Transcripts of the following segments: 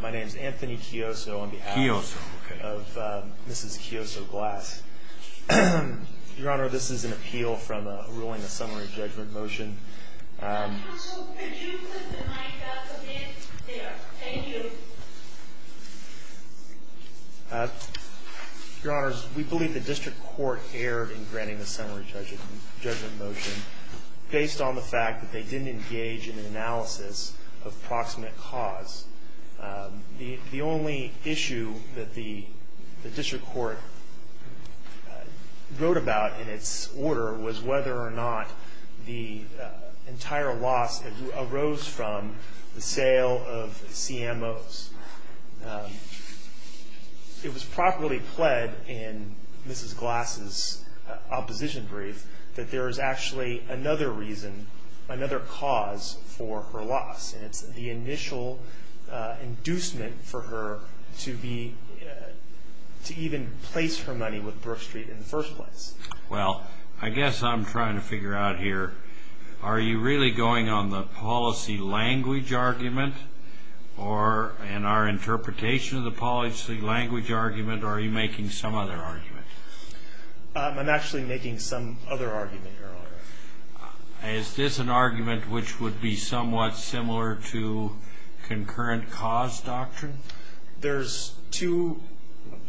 My name is Anthony Chioso on behalf of Mrs. Chioso-Glass. Your Honor, this is an appeal from a ruling, a summary judgment motion. Counsel, could you put the mic up again? There. Thank you. Your Honors, we believe the District Court erred in granting the summary judgment motion based on the fact that they didn't engage in an analysis of proximate cause. The only issue that the District Court wrote about in its order was whether or not the entire loss arose from the sale of CMOs. It was properly pled in Mrs. Glass's opposition brief that there is actually another reason, another cause for her loss. And it's the initial inducement for her to even place her money with Brookstreet in the first place. Well, I guess I'm trying to figure out here, are you really going on the policy language argument or in our interpretation of the policy language argument, or are you making some other argument? I'm actually making some other argument, Your Honor. Is this an argument which would be somewhat similar to concurrent cause doctrine? There's two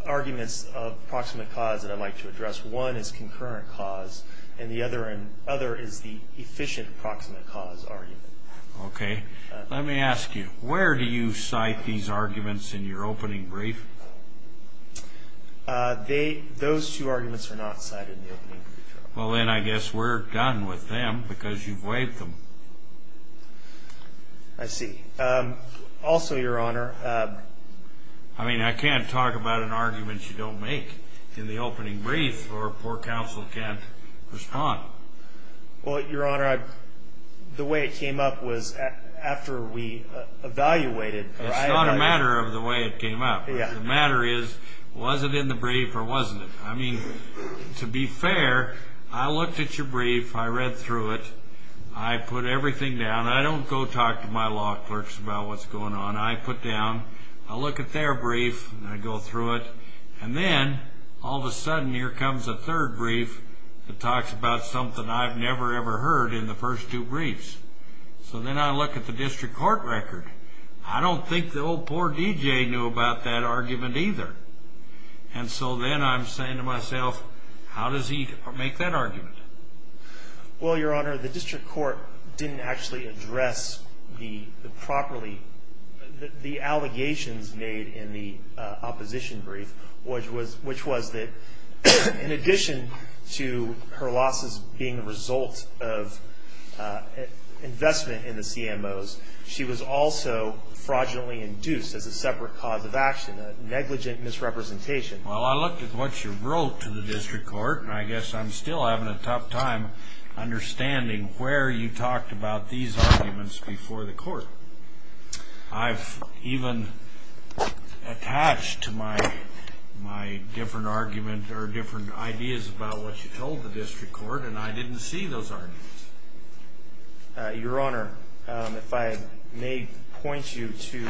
arguments of proximate cause that I'd like to address. One is concurrent cause, and the other is the efficient proximate cause argument. Okay. Let me ask you, where do you cite these arguments in your opening brief? Those two arguments are not cited in the opening brief, Your Honor. Well, then I guess we're done with them because you've waived them. I see. Also, Your Honor, I mean, I can't talk about an argument you don't make in the opening brief, or poor counsel can't respond. Well, Your Honor, the way it came up was after we evaluated. It's not a matter of the way it came up. The matter is, was it in the brief or wasn't it? I mean, to be fair, I looked at your brief, I read through it, I put everything down. I don't go talk to my law clerks about what's going on. I put down, I look at their brief, and I go through it, and then all of a sudden here comes a third brief that talks about something I've never, ever heard in the first two briefs. So then I look at the district court record. I don't think the old poor DJ knew about that argument either. And so then I'm saying to myself, how does he make that argument? Well, Your Honor, the district court didn't actually address the allegations made in the opposition brief, which was that in addition to her losses being a result of investment in the CMOs, she was also fraudulently induced as a separate cause of action, a negligent misrepresentation. Well, I looked at what you wrote to the district court, and I guess I'm still having a tough time understanding where you talked about these arguments before the court. I've even attached to my different argument or different ideas about what you told the district court, and I didn't see those arguments. Your Honor, if I may point you to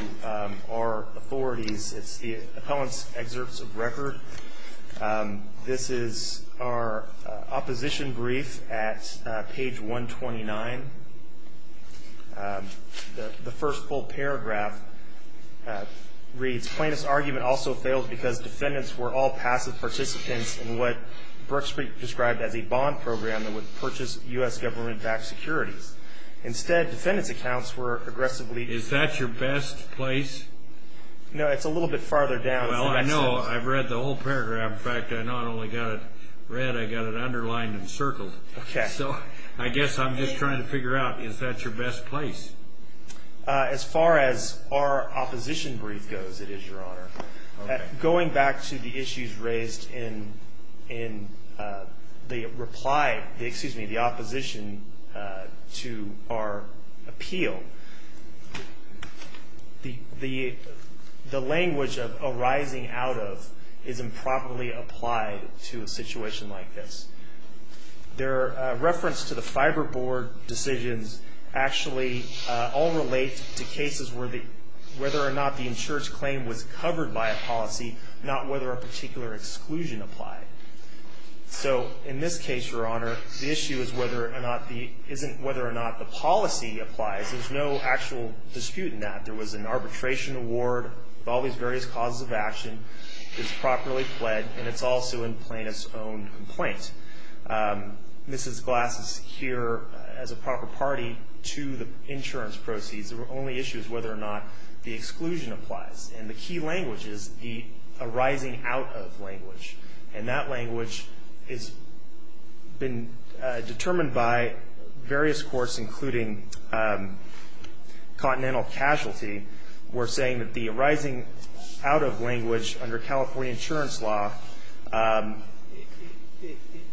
our authorities, it's the appellant's excerpts of record. This is our opposition brief at page 129. The first full paragraph reads, Plaintiff's argument also failed because defendants were all passive participants in what Brooks described as a bond program that would purchase U.S. government-backed securities. Instead, defendants' accounts were aggressively Is that your best place? No, it's a little bit farther down. Well, I know. I've read the whole paragraph. In fact, I not only got it read, I got it underlined and circled. Okay. So I guess I'm just trying to figure out, is that your best place? As far as our opposition brief goes, it is, Your Honor. Going back to the issues raised in the opposition to our appeal, the language of arising out of is improperly applied to a situation like this. Their reference to the Fiber Board decisions actually all relate to cases where whether or not the insurer's claim was covered by a policy, not whether a particular exclusion applied. So in this case, Your Honor, the issue isn't whether or not the policy applies. There's no actual dispute in that. There was an arbitration award. All these various causes of action is properly fled, and it's also in plaintiff's own complaint. Mrs. Glass is here as a proper party to the insurance proceeds. The only issue is whether or not the exclusion applies. And the key language is the arising out of language, and that language has been determined by various courts, including Continental Casualty. We're saying that the arising out of language under California insurance law,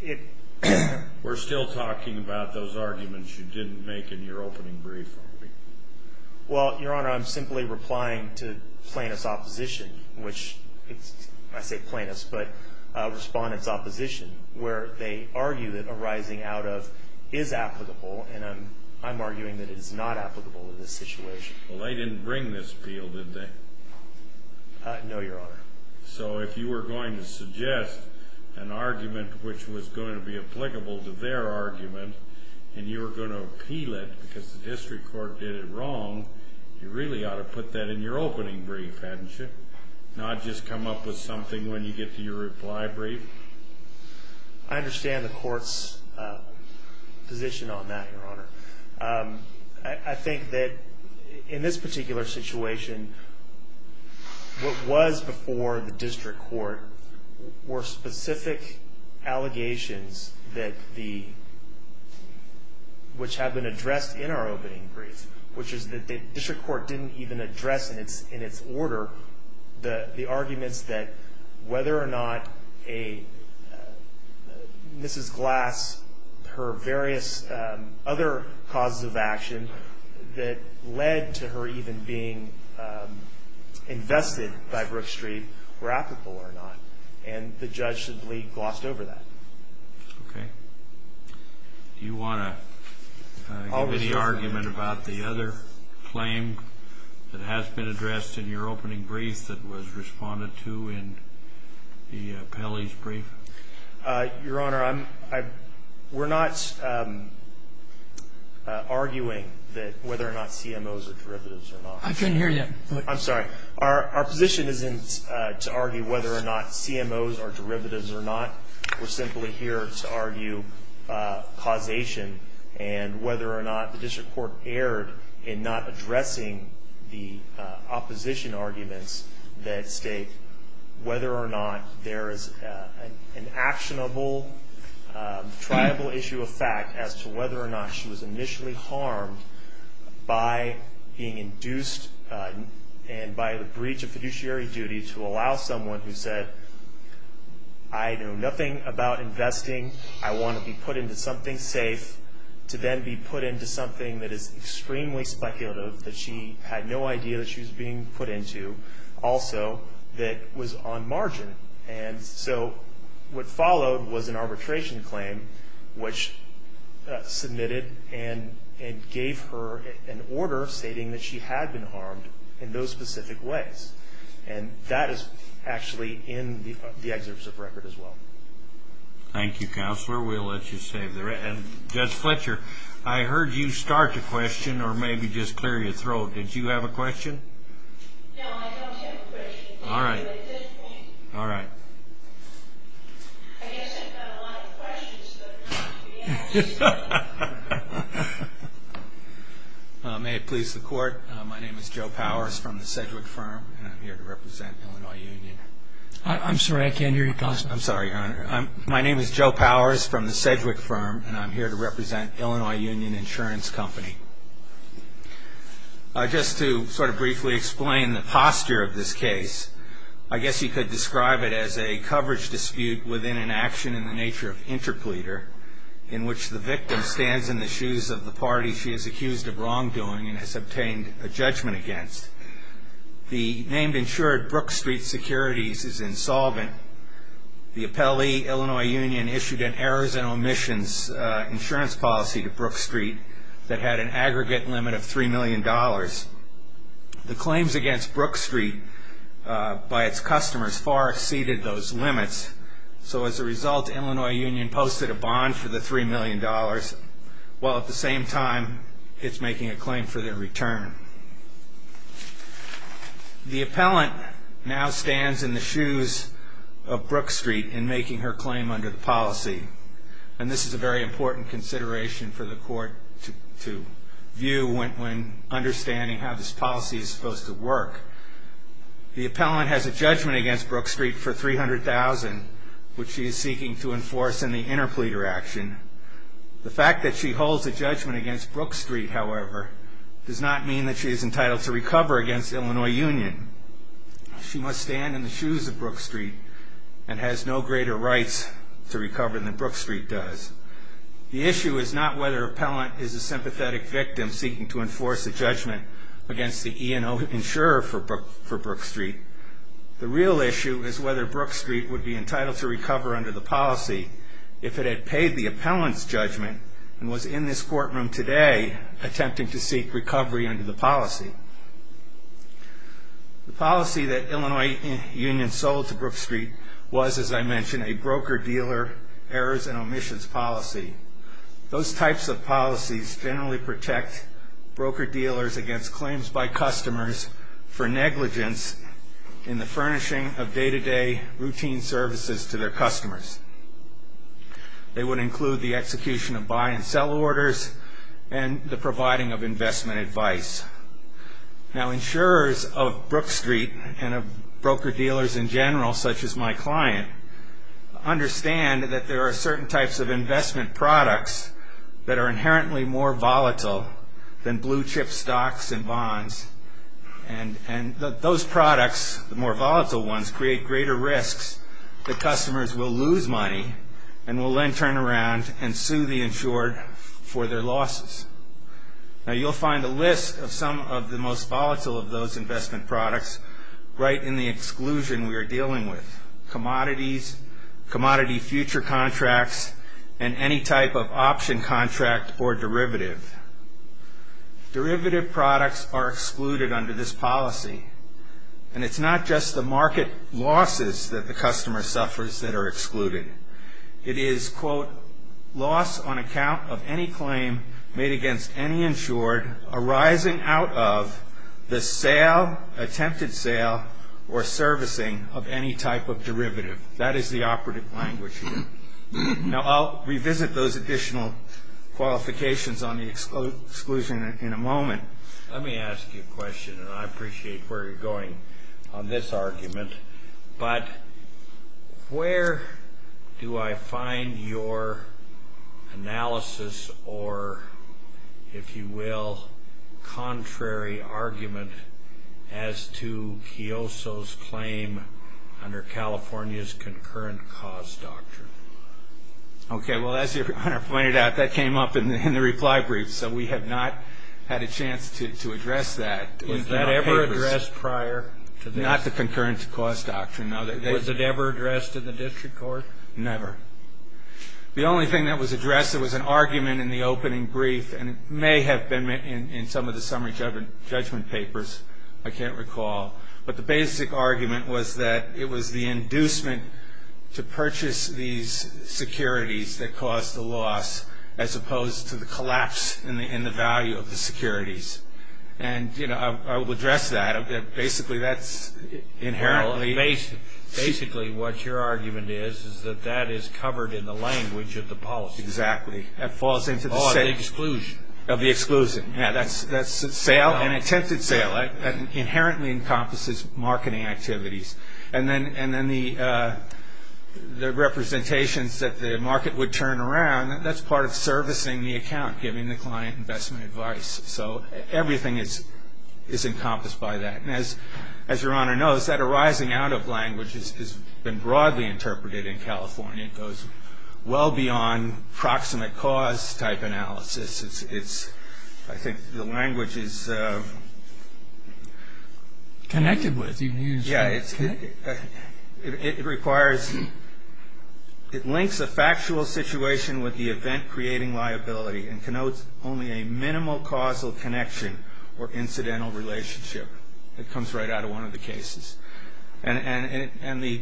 it- We're still talking about those arguments you didn't make in your opening brief. Well, Your Honor, I'm simply replying to plaintiff's opposition, which- I say plaintiff's, but respondent's opposition, where they argue that arising out of is applicable, and I'm arguing that it is not applicable in this situation. Well, they didn't bring this appeal, did they? No, Your Honor. So if you were going to suggest an argument which was going to be applicable to their argument, and you were going to appeal it because the district court did it wrong, you really ought to put that in your opening brief, hadn't you? Not just come up with something when you get to your reply brief. I understand the court's position on that, Your Honor. I think that in this particular situation, what was before the district court were specific allegations that the- which have been addressed in our opening brief, which is that the district court didn't even address in its order the arguments that whether or not a- Mrs. Glass, her various other causes of action that led to her even being invested by Brook Street were applicable or not, and the judge simply glossed over that. Okay. Do you want to give any argument about the other claim that has been addressed in your opening brief Your Honor, I'm- we're not arguing that whether or not CMOs are derivatives or not. I couldn't hear you. I'm sorry. Our position isn't to argue whether or not CMOs are derivatives or not. We're simply here to argue causation and whether or not the district court erred in not addressing the opposition arguments that state whether or not there is an actionable, triable issue of fact as to whether or not she was initially harmed by being induced and by the breach of fiduciary duty to allow someone who said, I know nothing about investing, I want to be put into something safe, to then be put into something that is extremely speculative, that she had no idea that she was being put into, also that was on margin. And so what followed was an arbitration claim which submitted and gave her an order stating that she had been harmed in those specific ways. And that is actually in the excerpts of record as well. Thank you, Counselor. We'll let you save the rest. And Judge Fletcher, I heard you start the question or maybe just clear your throat. Did you have a question? No, I don't have a question. All right. I guess I've got a lot of questions. May it please the court, my name is Joe Powers from the Sedgwick Firm and I'm here to represent Illinois Union. I'm sorry, I can't hear you, Counselor. I'm sorry, Your Honor. My name is Joe Powers from the Sedgwick Firm and I'm here to represent Illinois Union Insurance Company. Just to sort of briefly explain the posture of this case, I guess you could describe it as a coverage dispute within an action in the nature of interpleader in which the victim stands in the shoes of the party she is accused of wrongdoing and has obtained a judgment against. The name insured, Brook Street Securities, is insolvent. The appellee, Illinois Union, issued an errors and omissions insurance policy to Brook Street that had an aggregate limit of $3 million. The claims against Brook Street by its customers far exceeded those limits. So as a result, Illinois Union posted a bond for the $3 million, while at the same time it's making a claim for their return. The appellant now stands in the shoes of Brook Street in making her claim under the policy, and this is a very important consideration for the court to view when understanding how this policy is supposed to work. The appellant has a judgment against Brook Street for $300,000, which she is seeking to enforce in the interpleader action. The fact that she holds a judgment against Brook Street, however, does not mean that she is entitled to recover against Illinois Union. She must stand in the shoes of Brook Street and has no greater rights to recover than Brook Street does. The issue is not whether appellant is a sympathetic victim seeking to enforce a judgment against the E&O insurer for Brook Street. The real issue is whether Brook Street would be entitled to recover under the policy if it had paid the appellant's judgment and was in this courtroom today attempting to seek recovery under the policy. The policy that Illinois Union sold to Brook Street was, as I mentioned, a broker-dealer errors and omissions policy. Those types of policies generally protect broker-dealers against claims by customers for negligence in the furnishing of day-to-day routine services to their customers. They would include the execution of buy and sell orders and the providing of investment advice. Now, insurers of Brook Street and of broker-dealers in general, such as my client, understand that there are certain types of investment products that are inherently more volatile than blue-chip stocks and bonds, and those products, the more volatile ones, create greater risks that customers will lose money and will then turn around and sue the insured for their losses. Now, you'll find a list of some of the most volatile of those investment products right in the exclusion we are dealing with, commodities, commodity future contracts, and any type of option contract or derivative. Derivative products are excluded under this policy, and it's not just the market losses that the customer suffers that are excluded. It is, quote, loss on account of any claim made against any insured arising out of the sale, attempted sale, or servicing of any type of derivative. That is the operative language here. Now, I'll revisit those additional qualifications on the exclusion in a moment. Let me ask you a question, and I appreciate where you're going on this argument, but where do I find your analysis or, if you will, contrary argument as to Chioso's claim under California's Concurrent Cause Doctrine? Okay, well, as your Honor pointed out, that came up in the reply brief, so we have not had a chance to address that. Was that ever addressed prior to this? Not the Concurrent Cause Doctrine, no. Was it ever addressed in the district court? Never. The only thing that was addressed, there was an argument in the opening brief, and it may have been in some of the summary judgment papers, I can't recall, but the basic argument was that it was the inducement to purchase these securities that caused the loss as opposed to the collapse in the value of the securities. I will address that. Basically, that's inherently... Basically, what your argument is is that that is covered in the language of the policy. Exactly. Of the exclusion. Of the exclusion. That's a sale, an attempted sale. That inherently encompasses marketing activities. And then the representations that the market would turn around, that's part of servicing the account, giving the client investment advice. So everything is encompassed by that. And as your Honor knows, that arising out of language has been broadly interpreted in California. It goes well beyond proximate cause type analysis. I think the language is... Connected with. It requires... It links a factual situation with the event-creating liability and connotes only a minimal causal connection or incidental relationship. It comes right out of one of the cases. And the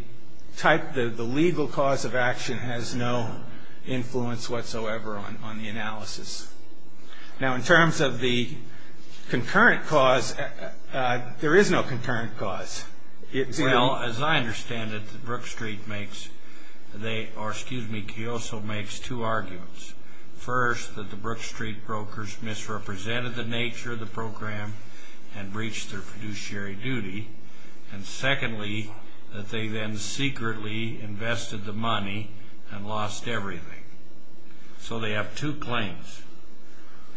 legal cause of action has no influence whatsoever on the analysis. Now, in terms of the concurrent cause, there is no concurrent cause. Well, as I understand it, Brook Street makes... Or excuse me, Kiyoso makes two arguments. First, that the Brook Street brokers misrepresented the nature of the program and breached their fiduciary duty. And secondly, that they then secretly invested the money and lost everything. So they have two claims,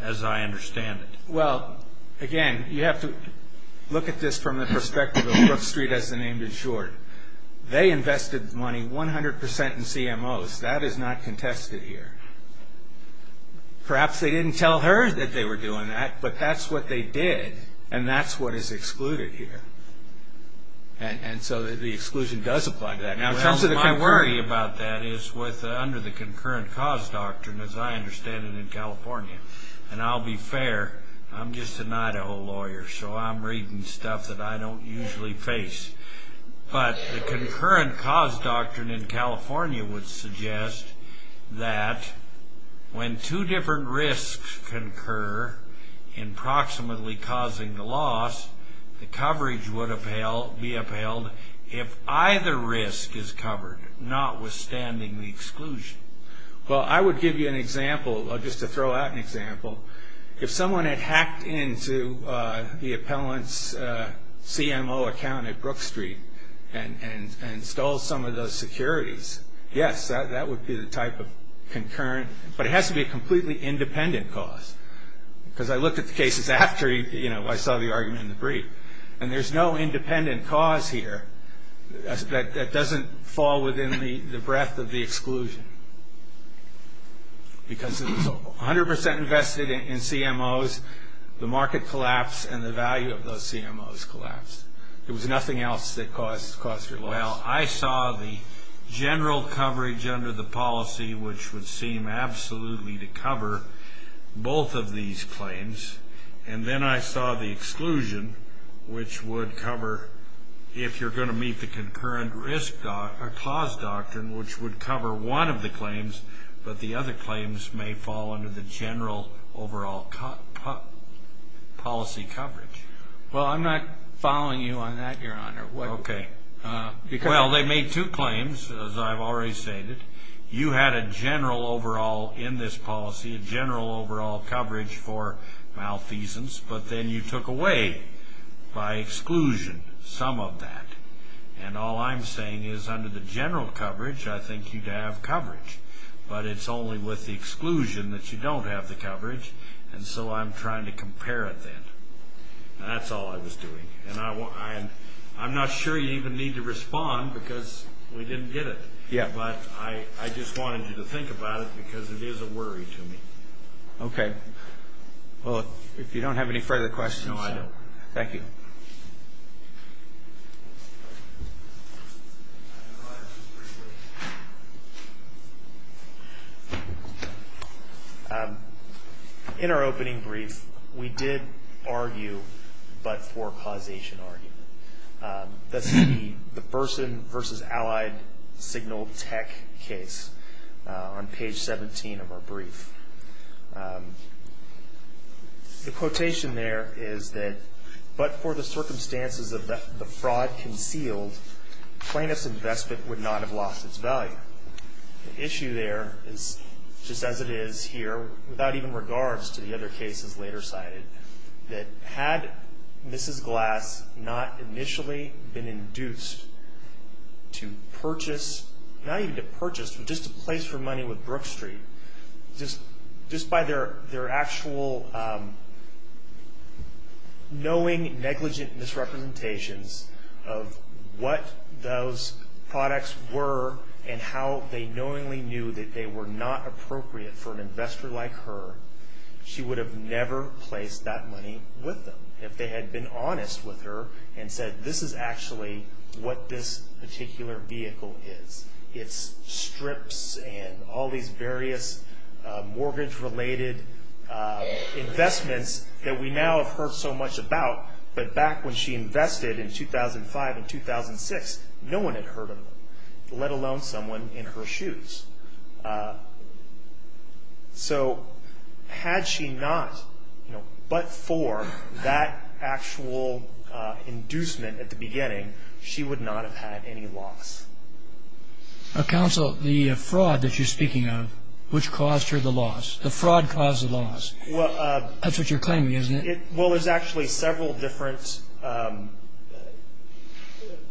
as I understand it. Well, again, you have to look at this from the perspective of Brook Street, as the name did short. They invested money 100% in CMOs. That is not contested here. Perhaps they didn't tell her that they were doing that, but that's what they did. And that's what is excluded here. And so the exclusion does apply to that. Well, my worry about that is under the concurrent cause doctrine, as I understand it in California. And I'll be fair. I'm just an Idaho lawyer, so I'm reading stuff that I don't usually face. But the concurrent cause doctrine in California would suggest that when two different risks concur in proximately causing the loss, the coverage would be upheld. If either risk is covered, notwithstanding the exclusion. Well, I would give you an example, just to throw out an example. If someone had hacked into the appellant's CMO account at Brook Street and stole some of those securities, yes, that would be the type of concurrent. But it has to be a completely independent cause. Because I looked at the cases after I saw the argument in the brief. And there's no independent cause here that doesn't fall within the breadth of the exclusion. Because it was 100% invested in CMOs, the market collapsed, and the value of those CMOs collapsed. There was nothing else that caused your loss. Well, I saw the general coverage under the policy, which would seem absolutely to cover both of these claims. And then I saw the exclusion, which would cover if you're going to meet the concurrent risk or cause doctrine, which would cover one of the claims. But the other claims may fall under the general overall policy coverage. Well, I'm not following you on that, Your Honor. Okay. Well, they made two claims, as I've already stated. You had a general overall in this policy, a general overall coverage for malfeasance. But then you took away by exclusion some of that. And all I'm saying is under the general coverage, I think you'd have coverage. But it's only with the exclusion that you don't have the coverage. And so I'm trying to compare it then. And that's all I was doing. And I'm not sure you even need to respond because we didn't get it. But I just wanted you to think about it because it is a worry to me. Okay. Well, if you don't have any further questions. No, I don't. Thank you. In our opening brief, we did argue but for causation argument. That's the person versus allied signal tech case on page 17 of our brief. The quotation there is that but for the circumstances of the fraud concealed, plaintiff's investment would not have lost its value. The issue there is just as it is here, without even regards to the other cases later cited, that had Mrs. Glass not initially been induced to purchase, not even to purchase, but just to place her money with Brook Street, just by their actual knowing negligent misrepresentations of what those products were and how they knowingly knew that they were not appropriate for an investor like her, she would have never placed that money with them if they had been honest with her and said this is actually what this particular vehicle is. It's strips and all these various mortgage-related investments that we now have heard so much about. But back when she invested in 2005 and 2006, no one had heard of them, let alone someone in her shoes. So had she not but for that actual inducement at the beginning, she would not have had any loss. Counsel, the fraud that you're speaking of, which caused her the loss? The fraud caused the loss. That's what you're claiming, isn't it? Well, there's actually several different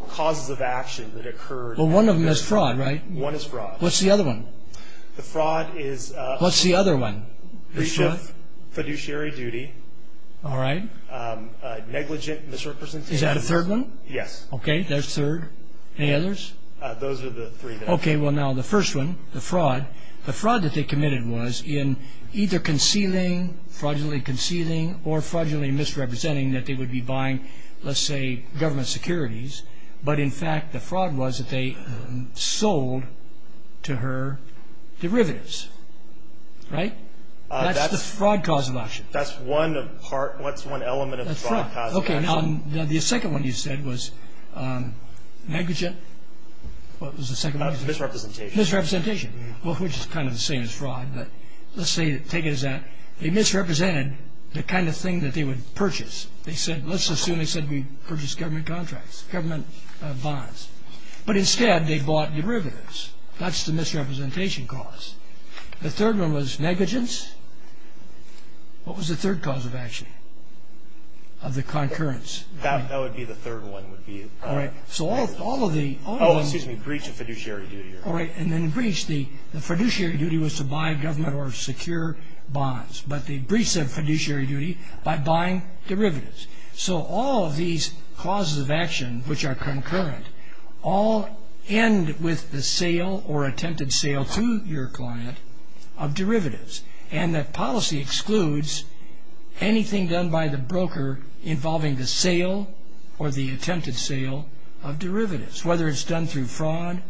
causes of action that occurred. Well, one of them is fraud, right? One is fraud. What's the other one? The fraud is… What's the other one? Breach of fiduciary duty. All right. Negligent misrepresentation. Is that a third one? Yes. Okay, there's a third. Any others? Those are the three. Okay, well now the first one, the fraud. The fraud that they committed was in either concealing, fraudulently concealing, or fraudulently misrepresenting that they would be buying, let's say, government securities. But, in fact, the fraud was that they sold to her derivatives, right? That's the fraud cause of action. That's one element of the fraud cause of action. Okay, now the second one you said was negligent. What was the second one? Misrepresentation. Misrepresentation. Well, which is kind of the same as fraud, but let's take it as that. They misrepresented the kind of thing that they would purchase. They said, let's assume they said they purchased government contracts, government bonds. But, instead, they bought derivatives. That's the misrepresentation cause. The third one was negligence. What was the third cause of action of the concurrence? That would be the third one would be. All right, so all of the... Oh, excuse me, breach of fiduciary duty. All right, and then the breach, the fiduciary duty was to buy government or secure bonds. But they breached the fiduciary duty by buying derivatives. So all of these causes of action, which are concurrent, all end with the sale or attempted sale to your client of derivatives. And the policy excludes anything done by the broker involving the sale or the attempted sale of derivatives, whether it's done through fraud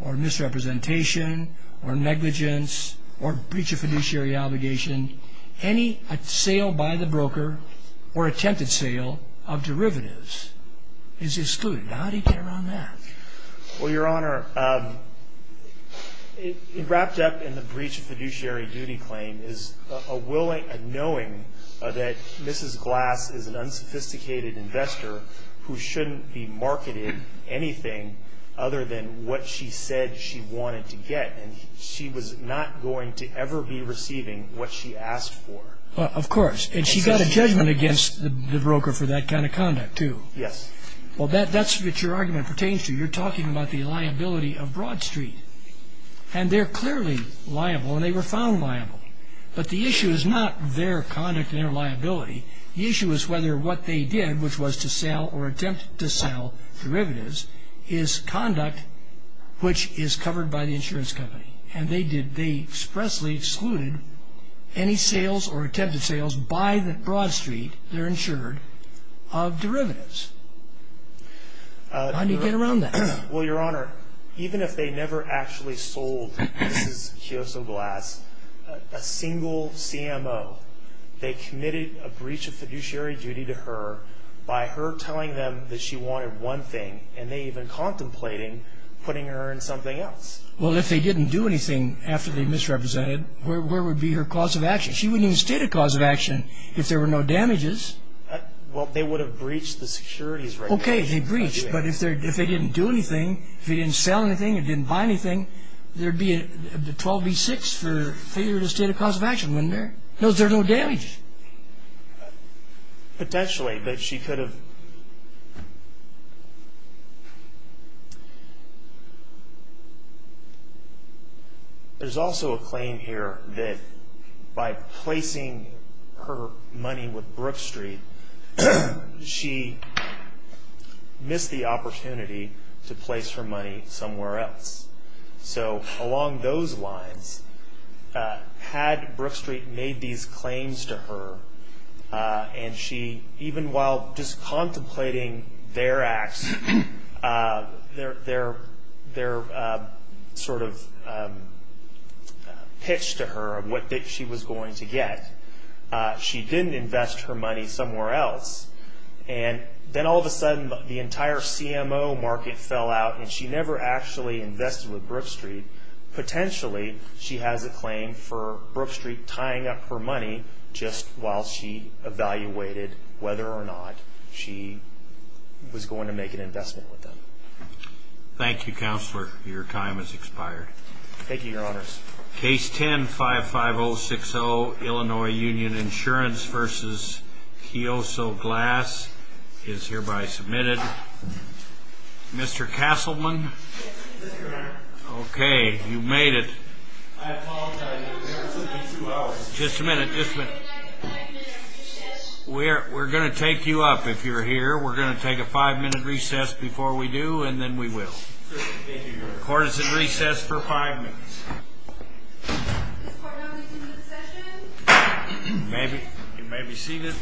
or misrepresentation or negligence or breach of fiduciary obligation. Any sale by the broker or attempted sale of derivatives is excluded. How do you get around that? Well, Your Honor, wrapped up in the breach of fiduciary duty claim is a knowing that Mrs. Glass is an unsophisticated investor who shouldn't be marketed anything other than what she said she wanted to get. And she was not going to ever be receiving what she asked for. Of course. And she got a judgment against the broker for that kind of conduct, too. Yes. Well, that's what your argument pertains to. You're talking about the liability of Broad Street. And they're clearly liable, and they were found liable. But the issue is not their conduct and their liability. The issue is whether what they did, which was to sell or attempt to sell derivatives, is conduct which is covered by the insurance company. And they expressly excluded any sales or attempted sales by Broad Street, they're insured, of derivatives. How do you get around that? Well, Your Honor, even if they never actually sold Mrs. Chioso Glass a single CMO, they committed a breach of fiduciary duty to her by her telling them that she wanted one thing and they even contemplating putting her in something else. Well, if they didn't do anything after they misrepresented, where would be her cause of action? She wouldn't even state a cause of action if there were no damages. Well, they would have breached the securities regulation. Okay, they breached. But if they didn't do anything, if they didn't sell anything or didn't buy anything, there would be a 12B6 for failure to state a cause of action, wouldn't there? No, there are no damages. Potentially, but she could have... There's also a claim here that by placing her money with Brook Street, she missed the opportunity to place her money somewhere else. So along those lines, had Brook Street made these claims to her and she even while just contemplating their acts, their sort of pitch to her of what she was going to get, she didn't invest her money somewhere else. And then all of a sudden, the entire CMO market fell out and she never actually invested with Brook Street. Potentially, she has a claim for Brook Street tying up her money just while she evaluated whether or not she was going to make an investment with them. Thank you, Counselor. Your time has expired. Thank you, Your Honors. Case 10-55060, Illinois Union Insurance v. Chioso Glass is hereby submitted. Mr. Castleman? Okay, you made it. I apologize. Just a minute, just a minute. We're going to take you up if you're here. We're going to take a five-minute recess before we do and then we will. Court is in recess for five minutes. You may be seated.